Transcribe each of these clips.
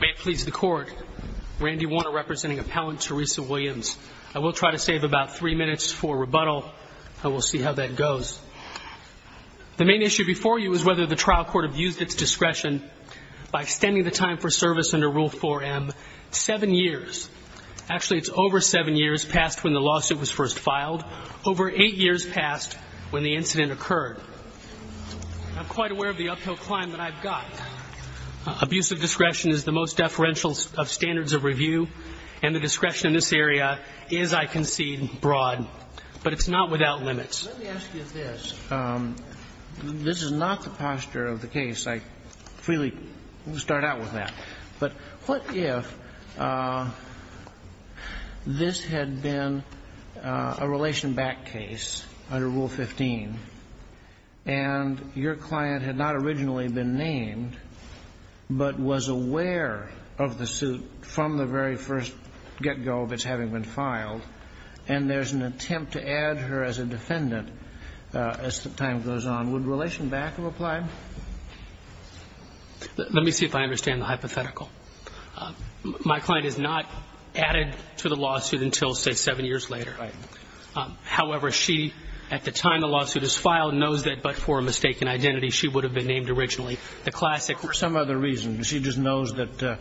May it please the Court, Randy Warner representing Appellant Teresa Williams. I will try to save about three minutes for rebuttal, and we'll see how that goes. The main issue before you is whether the trial court abused its discretion by extending the time for service under Rule 4M seven years. Actually, it's over seven years past when the lawsuit was first filed, over eight years past when the incident occurred. I'm quite aware of the uphill climb that I've got. Abusive discretion is the most deferential of standards of review, and the discretion in this area is, I concede, broad. But it's not without limits. Let me ask you this. This is not the posture of the case. I freely start out with that. But what if this had been a Relationback case under Rule 15, and your client had not originally been named, but was aware of the suit from the very first get-go of its having been filed, and there's an attempt to add her as a defendant as time goes on? Would Relationback have applied? Let me see if I understand the hypothetical. My client is not added to the lawsuit until, say, seven years later. Right. However, she, at the time the lawsuit is filed, knows that but for a mistaken identity, she would have been named originally. The classic – For some other reason. She just knows that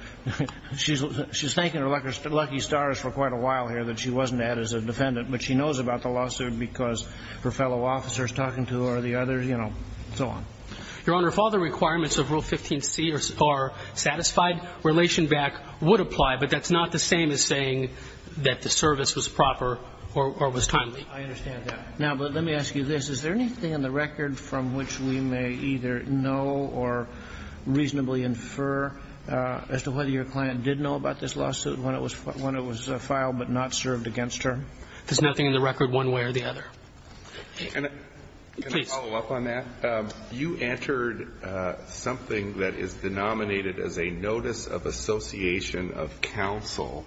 – she's thanking her lucky stars for quite a while here that she wasn't added as a defendant, but she knows about the Your Honor, if all the requirements of Rule 15c are satisfied, Relationback would apply, but that's not the same as saying that the service was proper or was timely. I understand that. Now, let me ask you this. Is there anything in the record from which we may either know or reasonably infer as to whether your client did know about this lawsuit when it was filed but not served against her? There's nothing in the record one way or the other. Can I follow up on that? You entered something that is denominated as a notice of association of counsel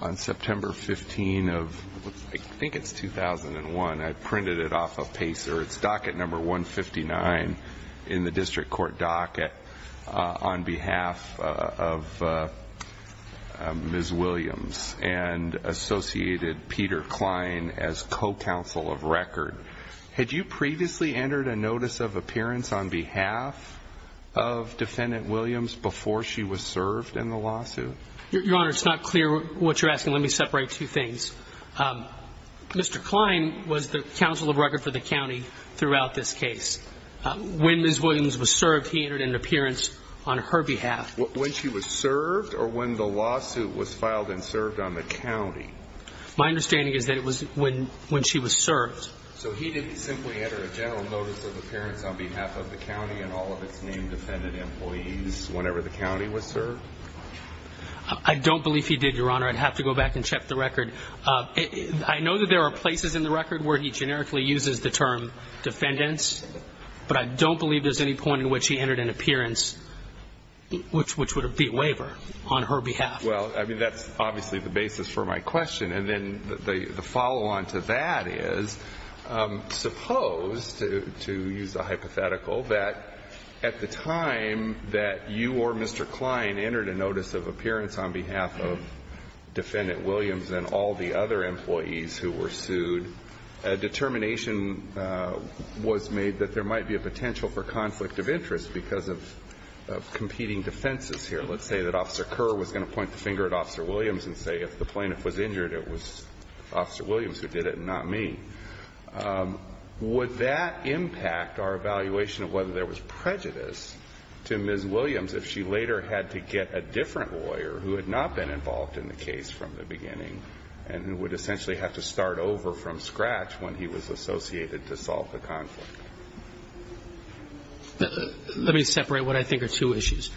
on September 15 of – I think it's 2001. I printed it off a pacer. It's docket number 159 in the district court docket on behalf of Ms. Williams's counsel of record. Had you previously entered a notice of appearance on behalf of Defendant Williams before she was served in the lawsuit? Your Honor, it's not clear what you're asking. Let me separate two things. Mr. Klein was the council of record for the County throughout this case. When Ms. Williams was served, he entered an appearance on her behalf. When she was served, or when the lawsuit was filed and served on the County? My understanding is that it was when she was served. So he didn't simply enter a general notice of appearance on behalf of the County and all of its named defendant employees whenever the County was served? I don't believe he did, Your Honor. I'd have to go back and check the record. I know that there are places in the record where he generically uses the term defendants, but I don't believe there's any point in which he entered an appearance which would be a waiver on her behalf. Well, I mean, that's obviously the basis for my question. And then the follow-on to that is, suppose, to use a hypothetical, that at the time that you or Mr. Klein entered a notice of appearance on behalf of Defendant Williams and all the other employees who were sued, a determination was made that there might be a finger at Officer Williams and say, if the plaintiff was injured, it was Officer Williams who did it and not me. Would that impact our evaluation of whether there was prejudice to Ms. Williams if she later had to get a different lawyer who had not been involved in the case from the beginning and who would essentially have to start over from scratch when he was associated to solve the conflict? Let me separate what I think are two issues.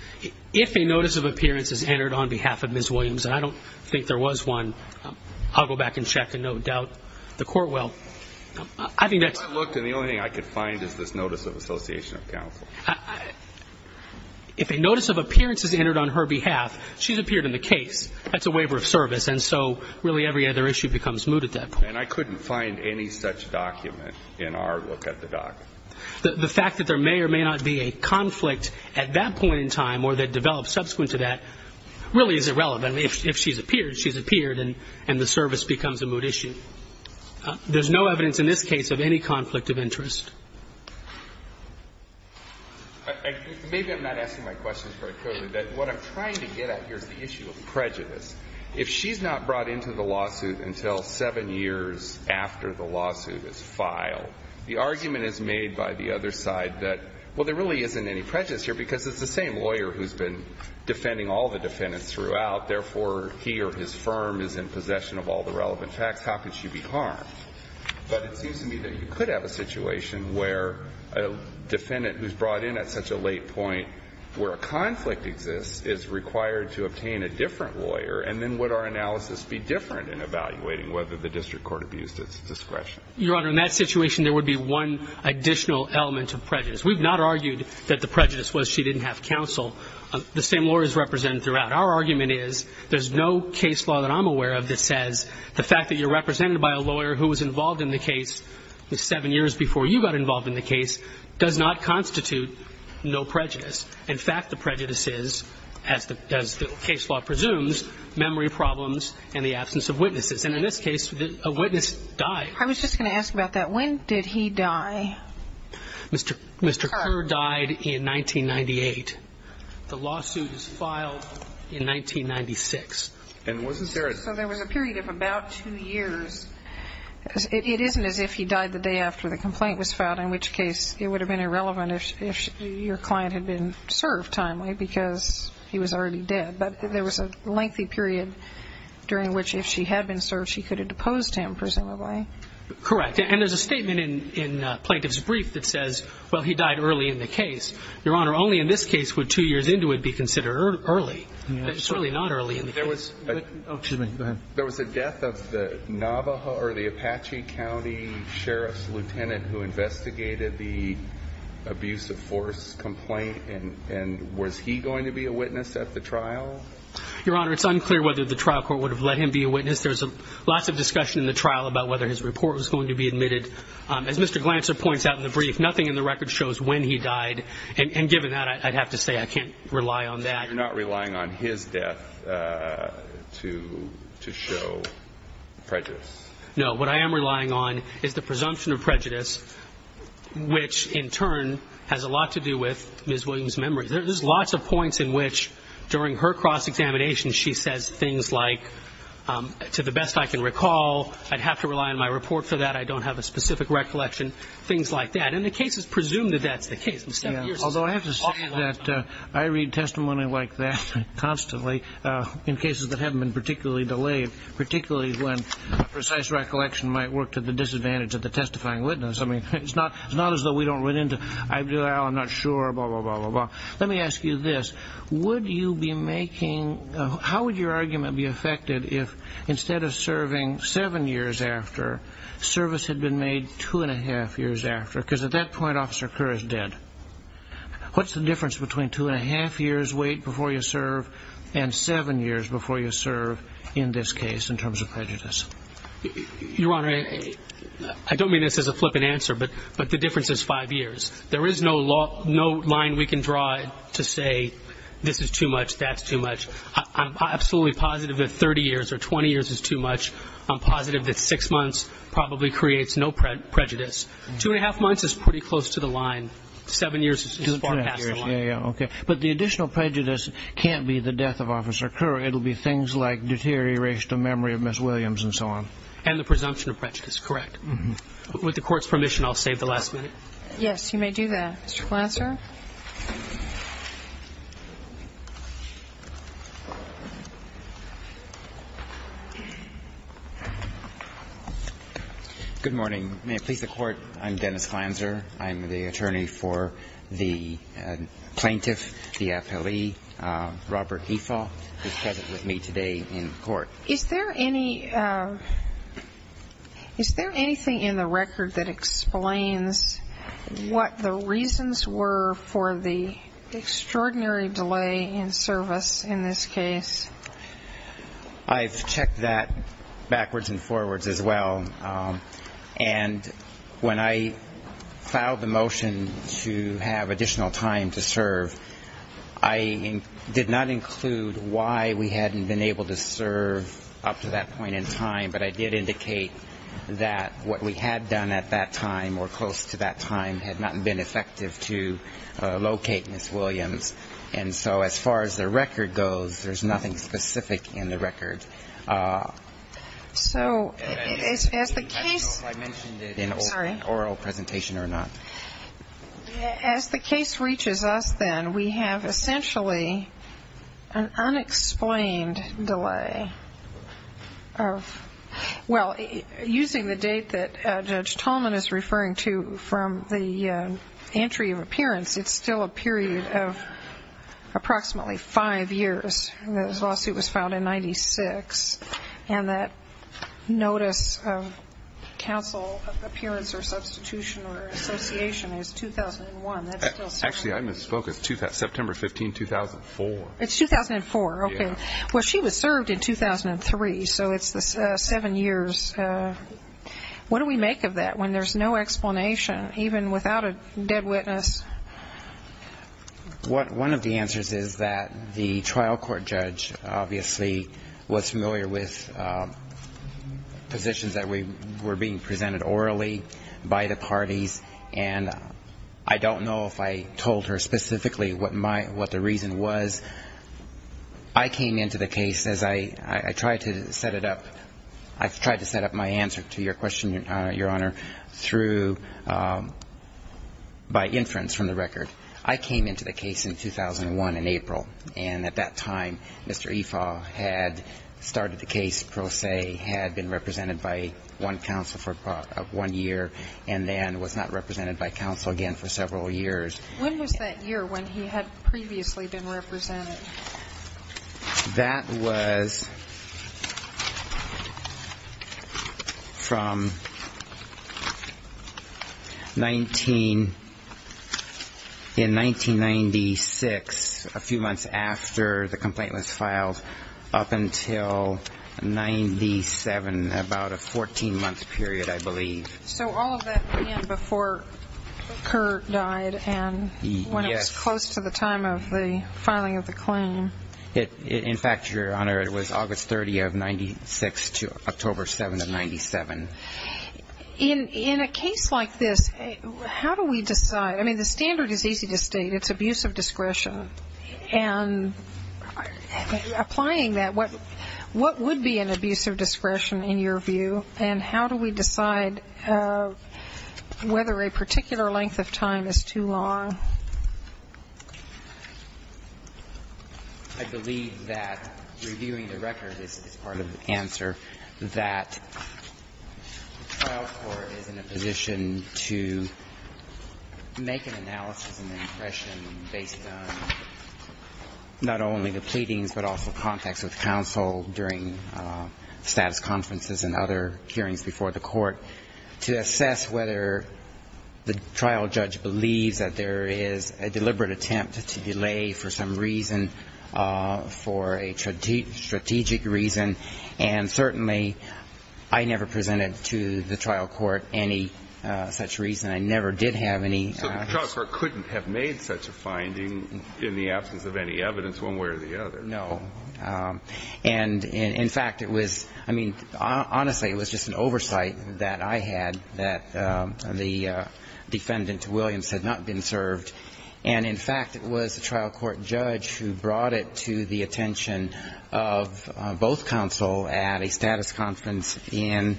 If a notice of appearance is entered on behalf of Ms. Williams, and I don't think there was one, I'll go back and check, and no doubt the court will. I think that's If I looked and the only thing I could find is this notice of association of counsel. If a notice of appearance is entered on her behalf, she's appeared in the case. That's a waiver of service. And so, really, every other issue becomes moot at that point. And I couldn't find any such document in our look at the document. The fact that there may or may not be a conflict at that point in time or that developed subsequent to that really is irrelevant. If she's appeared, she's appeared, and the service becomes a moot issue. There's no evidence in this case of any conflict of interest. Maybe I'm not asking my questions very clearly. What I'm trying to get at here is the issue of prejudice. If she's not brought into the lawsuit until seven years after the lawsuit is filed, the argument is made by the other side that, well, there really isn't any prejudice here because it's the same lawyer who's been defending all the defendants throughout. Therefore, he or his firm is in possession of all the relevant facts. How could she be harmed? But it seems to me that you could have a situation where a defendant who's brought in at such a late point where a conflict exists is required to obtain a different lawyer, and then would our analysis be different in evaluating whether the district court abused its discretion? Your Honor, in that situation, there would be one additional element of prejudice. We've not argued that the prejudice was she didn't have counsel. The same lawyers represented throughout. Our argument is there's no case law that I'm aware of that says the fact that you're represented by a lawyer who was involved in the case seven years before you got involved in the case does not constitute no prejudice. In fact, the prejudice is, as the case law presumes, memory problems and the absence of witnesses. And in this case, a witness died. I was just going to ask about that. When did he die? Mr. Kerr died in 1998. The lawsuit was filed in 1996. So there was a period of about two years. It isn't as if he died the day after the complaint was filed, in which case it would have been irrelevant if your client had been served timely because he was already dead. But there was a lengthy period during which, if she had been served, she could have deposed him, presumably. Correct. And there's a statement in plaintiff's brief that says, well, he died early in the case. Your Honor, only in this case would two years into it be considered early, certainly not early in the case. There was a death of the Navajo or the Apache County Sheriff's Lieutenant who investigated the abuse of force complaint. And was he going to be a witness at the trial? Your Honor, it's unclear whether the trial court would have let him be a witness. There's lots of discussion in the trial about whether his report was going to be admitted. As Mr. Glancer points out in the brief, nothing in the record shows when he died. And given that, I'd have to say I can't rely on that. You're not relying on his death to show prejudice? No. What I am relying on is the presumption of prejudice, which in turn has a lot to do with Ms. Williams' memory. There's lots of points in which, during her cross-examination, she says things like, to the best I can recall, I'd have to rely on my report for that, I don't have a specific recollection, things like that. And the case is presumed that that's the case. Although I have to say that I read testimony like that constantly in cases that haven't been particularly delayed, particularly when a precise recollection might work to the disadvantage of the testifying witness. It's not as though we don't run into, I'm not sure, blah, blah, blah. Let me ask you this. How would your argument be affected if, instead of serving seven years after, service had been made two and a half years after? Because at that point, Officer Kerr is dead. What's the difference between two and a half years' wait before you serve and seven years before you serve in this case in terms of prejudice? Your Honor, I don't mean this as a flippant answer, but the difference is five years. There is no line we can draw to say this is too much, that's too much. I'm absolutely positive that 30 years or 20 years is too much. I'm positive that six months probably creates no prejudice. Two and a half months is pretty close to the line. Seven years is far past the line. Okay. But the additional prejudice can't be the death of Officer Kerr. It will be things like deterioration of memory of Ms. Williams and so on. And the presumption of prejudice, correct. With the Court's permission, I'll save the last minute. Yes, you may do that. Mr. Flanser. Good morning. May it please the Court, I'm Dennis Flanser. I'm the attorney for the plaintiff, the appellee, Robert Hefa, who is present with me today in court. Is there anything in the record that explains what the reasons were for the extraordinary delay in service in this case? I've checked that backwards and forwards as well. And when I filed the motion to have additional time to serve, I did not include why we hadn't been able to serve up to that point in time, but I did indicate that what we had done at that time or close to that time had not been effective to locate Ms. Williams. And so as far as the record goes, there's nothing specific in the record. So as the case – I don't know if I mentioned it in oral presentation or not. As the case reaches us then, we have essentially an unexplained delay of – well, using the date that Judge Tolman is referring to from the entry of appearance, it's still a period of approximately five years. The lawsuit was filed in 1996. And that notice of counsel appearance or substitution or association is 2001. Actually, I misspoke. It's September 15, 2004. It's 2004. Okay. Well, she was served in 2003, so it's the seven years. What do we make of that when there's no explanation, even without a dead witness? One of the answers is that the trial court judge obviously was familiar with positions that were being presented orally by the parties, and I don't know if I told her specifically what the reason was. I came into the case as I tried to set it up – I tried to set up my answer to your question, Your Honor, through – by inference from the record. I came into the case in 2001 in April, and at that time Mr. Ifaw had started the case pro se, had been represented by one counsel for one year, and then was not represented by counsel again for several years. When was that year when he had previously been represented? That was from 19 – in 1996, a few months after the complaint was filed, up until 97, about a 14-month period, I believe. So all of that began before Kerr died and when it was close to the time of the filing of the claim. In fact, Your Honor, it was August 30 of 96 to October 7 of 97. In a case like this, how do we decide? I mean, the standard is easy to state. It's abuse of discretion. And applying that, what would be an abuse of discretion in your view, and how do we decide whether a particular length of time is too long? I believe that reviewing the record is part of the answer, that the trial court is in a position to make an analysis and an impression based on not only the pleadings, but also contacts with counsel during status conferences and other hearings before the court, to assess whether the trial judge believes that there is a deliberate attempt to delay for some reason, for a strategic reason. And certainly, I never presented to the trial court any such reason. I never did have any. So the trial court couldn't have made such a finding in the absence of any evidence one way or the other? No. And in fact, it was, I mean, honestly, it was just an oversight that I had that the defendant, Williams, had not been served. And in fact, it was the trial court judge who brought it to the attention of both counsel at a status conference in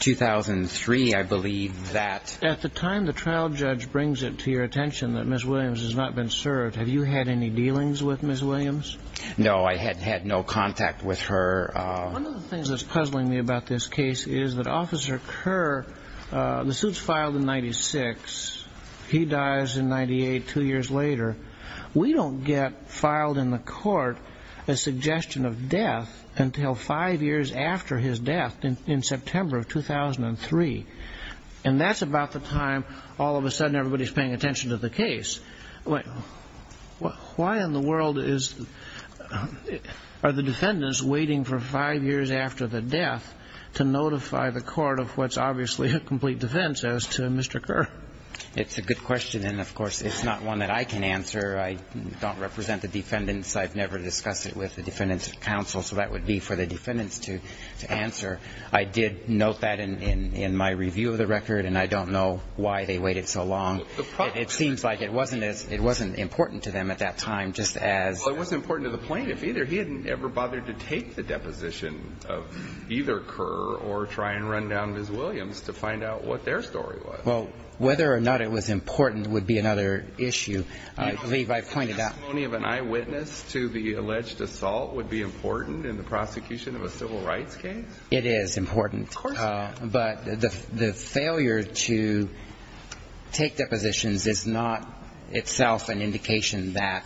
2003, I believe, that... At the time the trial judge brings it to your attention that Ms. Williams has not been served, have you had any dealings with Ms. Williams? No, I had had no contact with her. One of the things that's puzzling me about this case is that Officer Kerr, the suit's filed in 96, he dies in 98, two years later. We don't get filed in the court a suggestion of death until five years after his death in September of 2003. And that's about the time all of a sudden everybody's paying attention to the case. Why in the world are the defendants waiting for five years after the death to notify the court of what's obviously a complete defense as to Mr. Kerr? It's a good question, and of course, it's not one that I can answer. I don't represent the defendants. I've never discussed it with the defendants of counsel, so that would be for the defendants to answer. I did note that in my review of the record, and I don't know why they waited so long. It seems like it wasn't important to them at that time, just as— Well, it wasn't important to the plaintiff either. He hadn't ever bothered to take the deposition of either Kerr or try and run down Ms. Williams to find out what their story was. Well, whether or not it was important would be another issue. I believe I pointed out— Do you think the testimony of an eyewitness to the alleged assault would be important in the prosecution of a civil rights case? It is important. Of course it is. But the failure to take depositions is not itself an indication that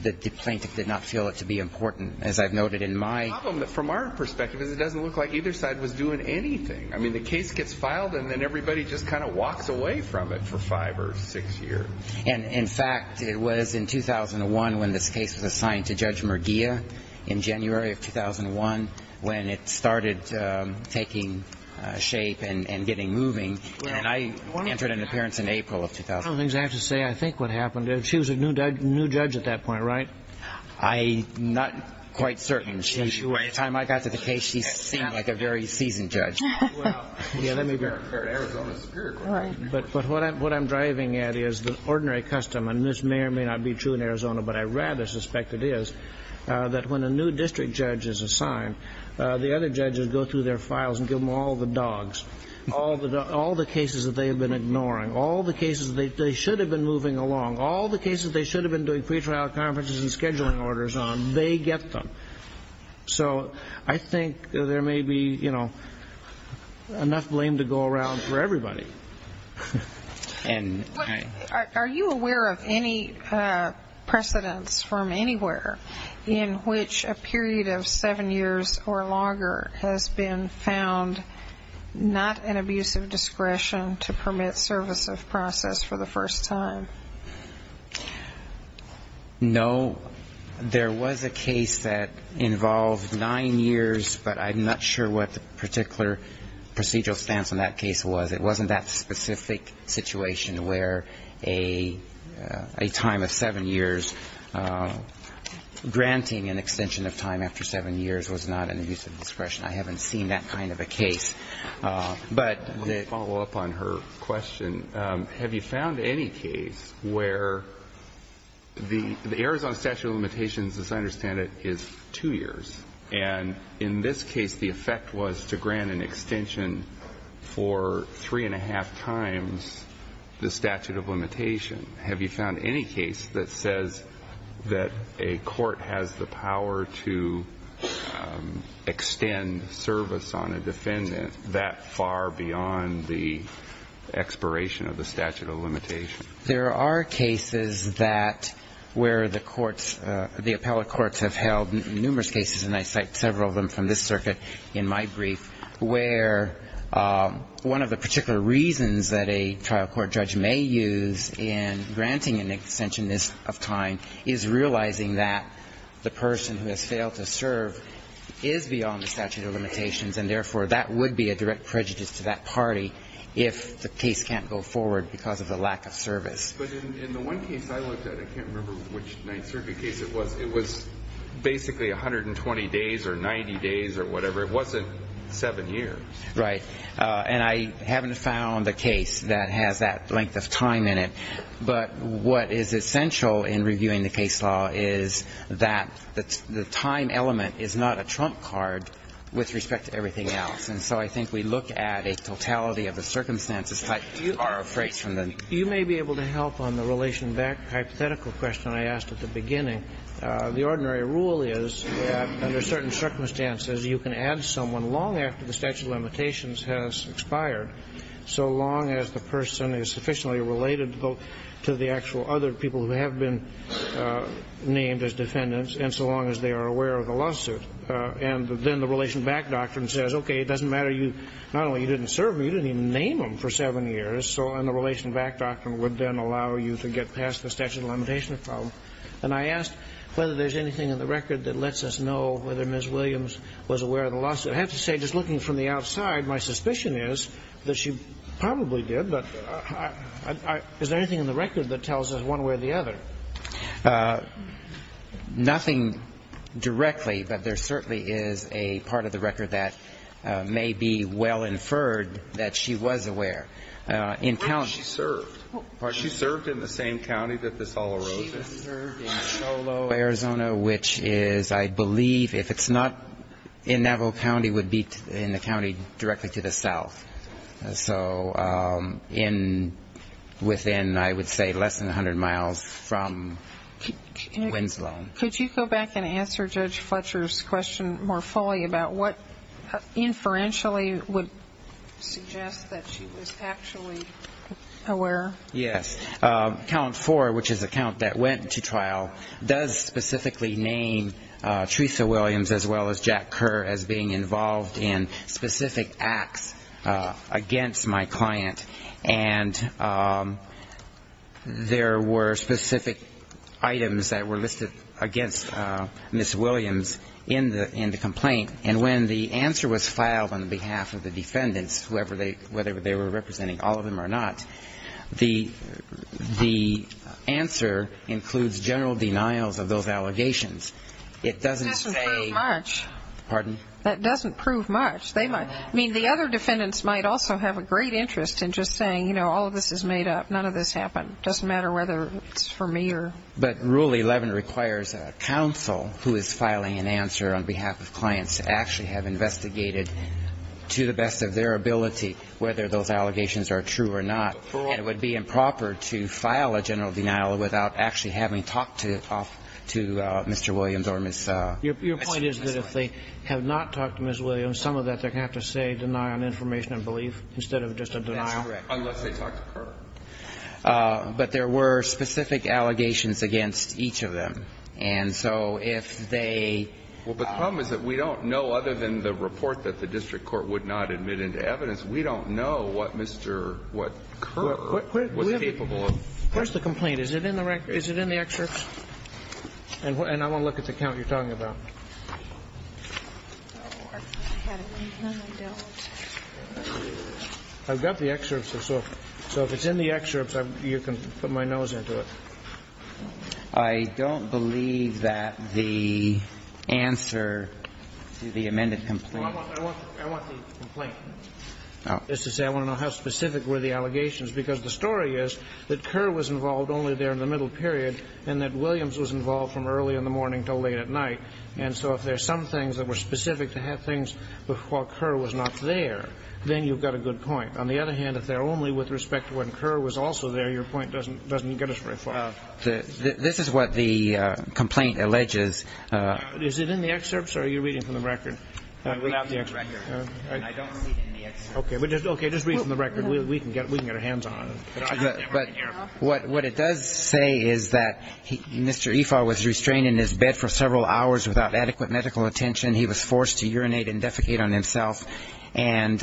the plaintiff did not feel it to be important, as I've noted in my— The problem, from our perspective, is it doesn't look like either side was doing anything. I mean, the case gets filed, and then everybody just kind of walks away from it for five or six years. And, in fact, it was in 2001 when this case was assigned to Judge Murguia, in January of 2001, when it started taking shape and getting moving. And I entered an appearance in April of 2001. One of the things I have to say, I think what happened, she was a new judge at that point, right? I'm not quite certain. By the time I got to the case, she seemed like a very seasoned judge. Well, let me be very clear. But what I'm driving at is the ordinary custom, and this may or may not be true in Arizona, but I rather suspect it is, that when a new district judge is assigned, the other judges go through their files and give them all the dogs, all the cases that they have been ignoring, all the cases that they should have been moving along, all the cases they should have been doing pre-trial conferences and scheduling orders on, they get them. So I think there may be enough blame to go around for everybody. Are you aware of any precedents from anywhere in which a period of seven years or longer has been found not an abuse of discretion to permit service of process for the first time? No. There was a case that involved nine years, but I'm not sure what the particular procedural stance on that case was. It wasn't that specific situation where a time of seven years, granting an extension of time after seven years was not an abuse of discretion. I haven't seen that kind of a case. I'll follow up on her question. Have you found any case where the Arizona statute of limitations, as I understand it, is two years, and in this case the effect was to grant an extension for three and a half times the statute of limitation. Have you found any case that says that a court has the power to extend service on a defendant that far beyond the expiration of the statute of limitation? There are cases that where the courts, the appellate courts have held numerous cases, and I cite several of them from this circuit in my brief, where one of the particular reasons that a trial court judge may use in granting an extension of time is realizing that the person who has failed to serve is beyond the statute of limitations, and therefore that would be a direct prejudice to that party if the case can't go forward because of the lack of service. But in the one case I looked at, I can't remember which ninth circuit case it was, it was basically 120 days or 90 days or whatever. It wasn't seven years. Right, and I haven't found a case that has that length of time in it, but what is essential in reviewing the case law is that the time element is not a trump card with respect to everything else, and so I think we look at a totality of the circumstances that you are afraid of. You may be able to help on the relation back to the hypothetical question I asked at the beginning. The ordinary rule is that under certain circumstances you can add someone long after the statute of limitations has expired, so long as the person is sufficiently related to the actual other people who have been named as defendants and so long as they are aware of the lawsuit. And then the relation back doctrine says, okay, it doesn't matter, not only you didn't serve them, you didn't even name them for seven years, and the relation back doctrine would then allow you to get past the statute of limitations problem. And I asked whether there's anything in the record that lets us know whether Ms. Williams was aware of the lawsuit. I have to say, just looking from the outside, my suspicion is that she probably did, but is there anything in the record that tells us one way or the other? Nothing directly, but there certainly is a part of the record that may be well inferred that she was aware. Where did she serve? Was she served in the same county that this all arose in? She was served in Solow, Arizona, which is, I believe, if it's not in Navajo County, would be in the county directly to the south. So within, I would say, less than 100 miles from Winslow. Could you go back and answer Judge Fletcher's question more fully about what inferentially would suggest that she was actually aware? Yes. Count 4, which is the count that went to trial, does specifically name Teresa Williams as well as Jack Kerr as being involved in specific acts against my client. And there were specific items that were listed against Ms. Williams in the complaint. And when the answer was filed on behalf of the defendants, whether they were representing all of them or not, the answer includes general denials of those allegations. It doesn't say... That doesn't prove much. Pardon? That doesn't prove much. I mean, the other defendants might also have a great interest in just saying, you know, all of this is made up. None of this happened. It doesn't matter whether it's for me or... But Rule 11 requires a counsel who is filing an answer on behalf of clients to actually have investigated to the best of their ability whether those allegations are true or not. And it would be improper to file a general denial without actually having talked to Mr. Williams or Ms. Williams. Your point is that if they have not talked to Ms. Williams, some of that they're going to have to say deny on information and belief instead of just a denial? That's correct. Unless they talked to Kerr. But there were specific allegations against each of them. And so if they... Well, but the problem is that we don't know, other than the report that the district court would not admit into evidence, we don't know what Mr. Kerr was capable of. Where's the complaint? Is it in the record? Is it in the excerpts? And I want to look at the count you're talking about. I've got the excerpts. So if it's in the excerpts, you can put my nose into it. I don't believe that the answer to the amended complaint... Well, I want the complaint. I want to know how specific were the allegations. Because the story is that Kerr was involved only there in the middle period and that Williams was involved from early in the morning until late at night. And so if there's some things that were specific to have things while Kerr was not there, then you've got a good point. On the other hand, if they're only with respect to when Kerr was also there, your point doesn't get us very far. This is what the complaint alleges. Is it in the excerpts or are you reading from the record? I'm reading from the record. I don't read in the excerpts. Okay, just read from the record. We can get our hands on it. But what it does say is that Mr. Ifar was restrained in his bed for several hours without adequate medical attention. He was forced to urinate and defecate on himself. And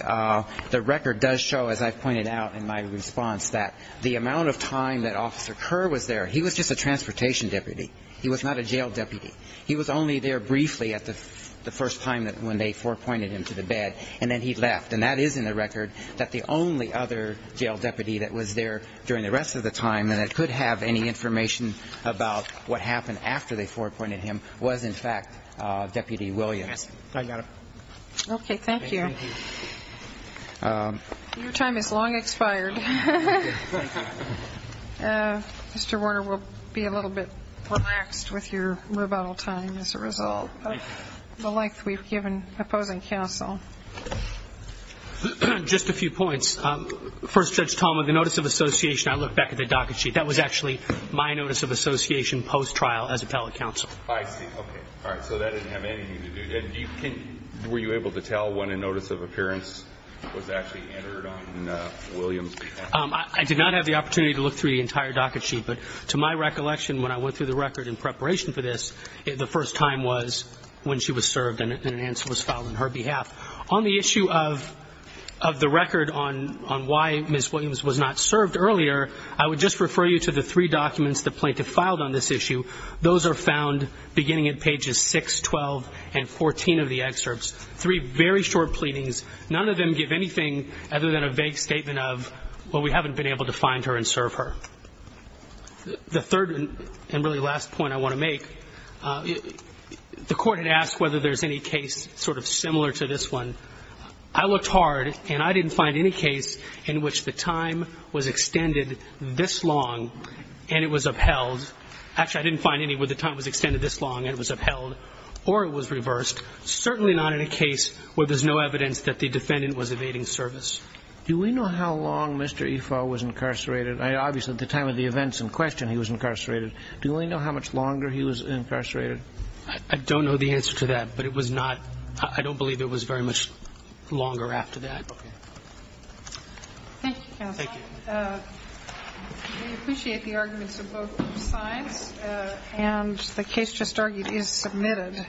the record does show, as I've pointed out in my response, that the amount of time that Officer Kerr was there, he was just a transportation deputy. He was not a jail deputy. He was only there briefly at the first time when they forepointed him to the bed and then he left. And that is in the record that the only other jail deputy that was there during the rest of the time and that could have any information about what happened after they forepointed him was in fact Deputy Williams. I got it. Okay, thank you. Thank you. Your time has long expired. Thank you. Thank you. Mr. Warner will be a little bit relaxed with your rebuttal time as a result of the length we've given opposing counsel. Just a few points. First Judge Tallman, the notice of association, I looked back at the docket sheet. That was actually my notice of association post-trial as appellate counsel. I see, okay. All right, so that didn't have anything to do. Were you able to tell when a notice of appearance was actually entered on Williams' behalf? I did not have the opportunity to look through the entire docket sheet. But to my recollection, when I went through the record in preparation for this, the first time was when she was served and an answer was filed on her behalf. On the issue of the record on why Ms. Williams was not served earlier, I would just refer you to the three documents the plaintiff filed on this issue. Those are found beginning at pages 6, 12, and 14 of the excerpts. Three very short pleadings. None of them give anything other than a vague statement of well, we haven't been able to find her and serve her. The third and really last point I want to make, the court had asked whether there's any case sort of similar to this one. I looked hard and I didn't find any case in which the time was extended this long and it was upheld. Actually, I didn't find any where the time was extended this long and it was upheld or it was reversed. Certainly not in a case where there's no evidence that the defendant was evading service. Do we know how long Mr. Ifo was incarcerated? Obviously, at the time of the events in question he was incarcerated. Do we know how much longer he was incarcerated? I don't know the answer to that but it was not, I don't believe it was very much longer after that. Okay. Thank you, counsel. Thank you. We appreciate the arguments of both sides and the case just argued is submitted.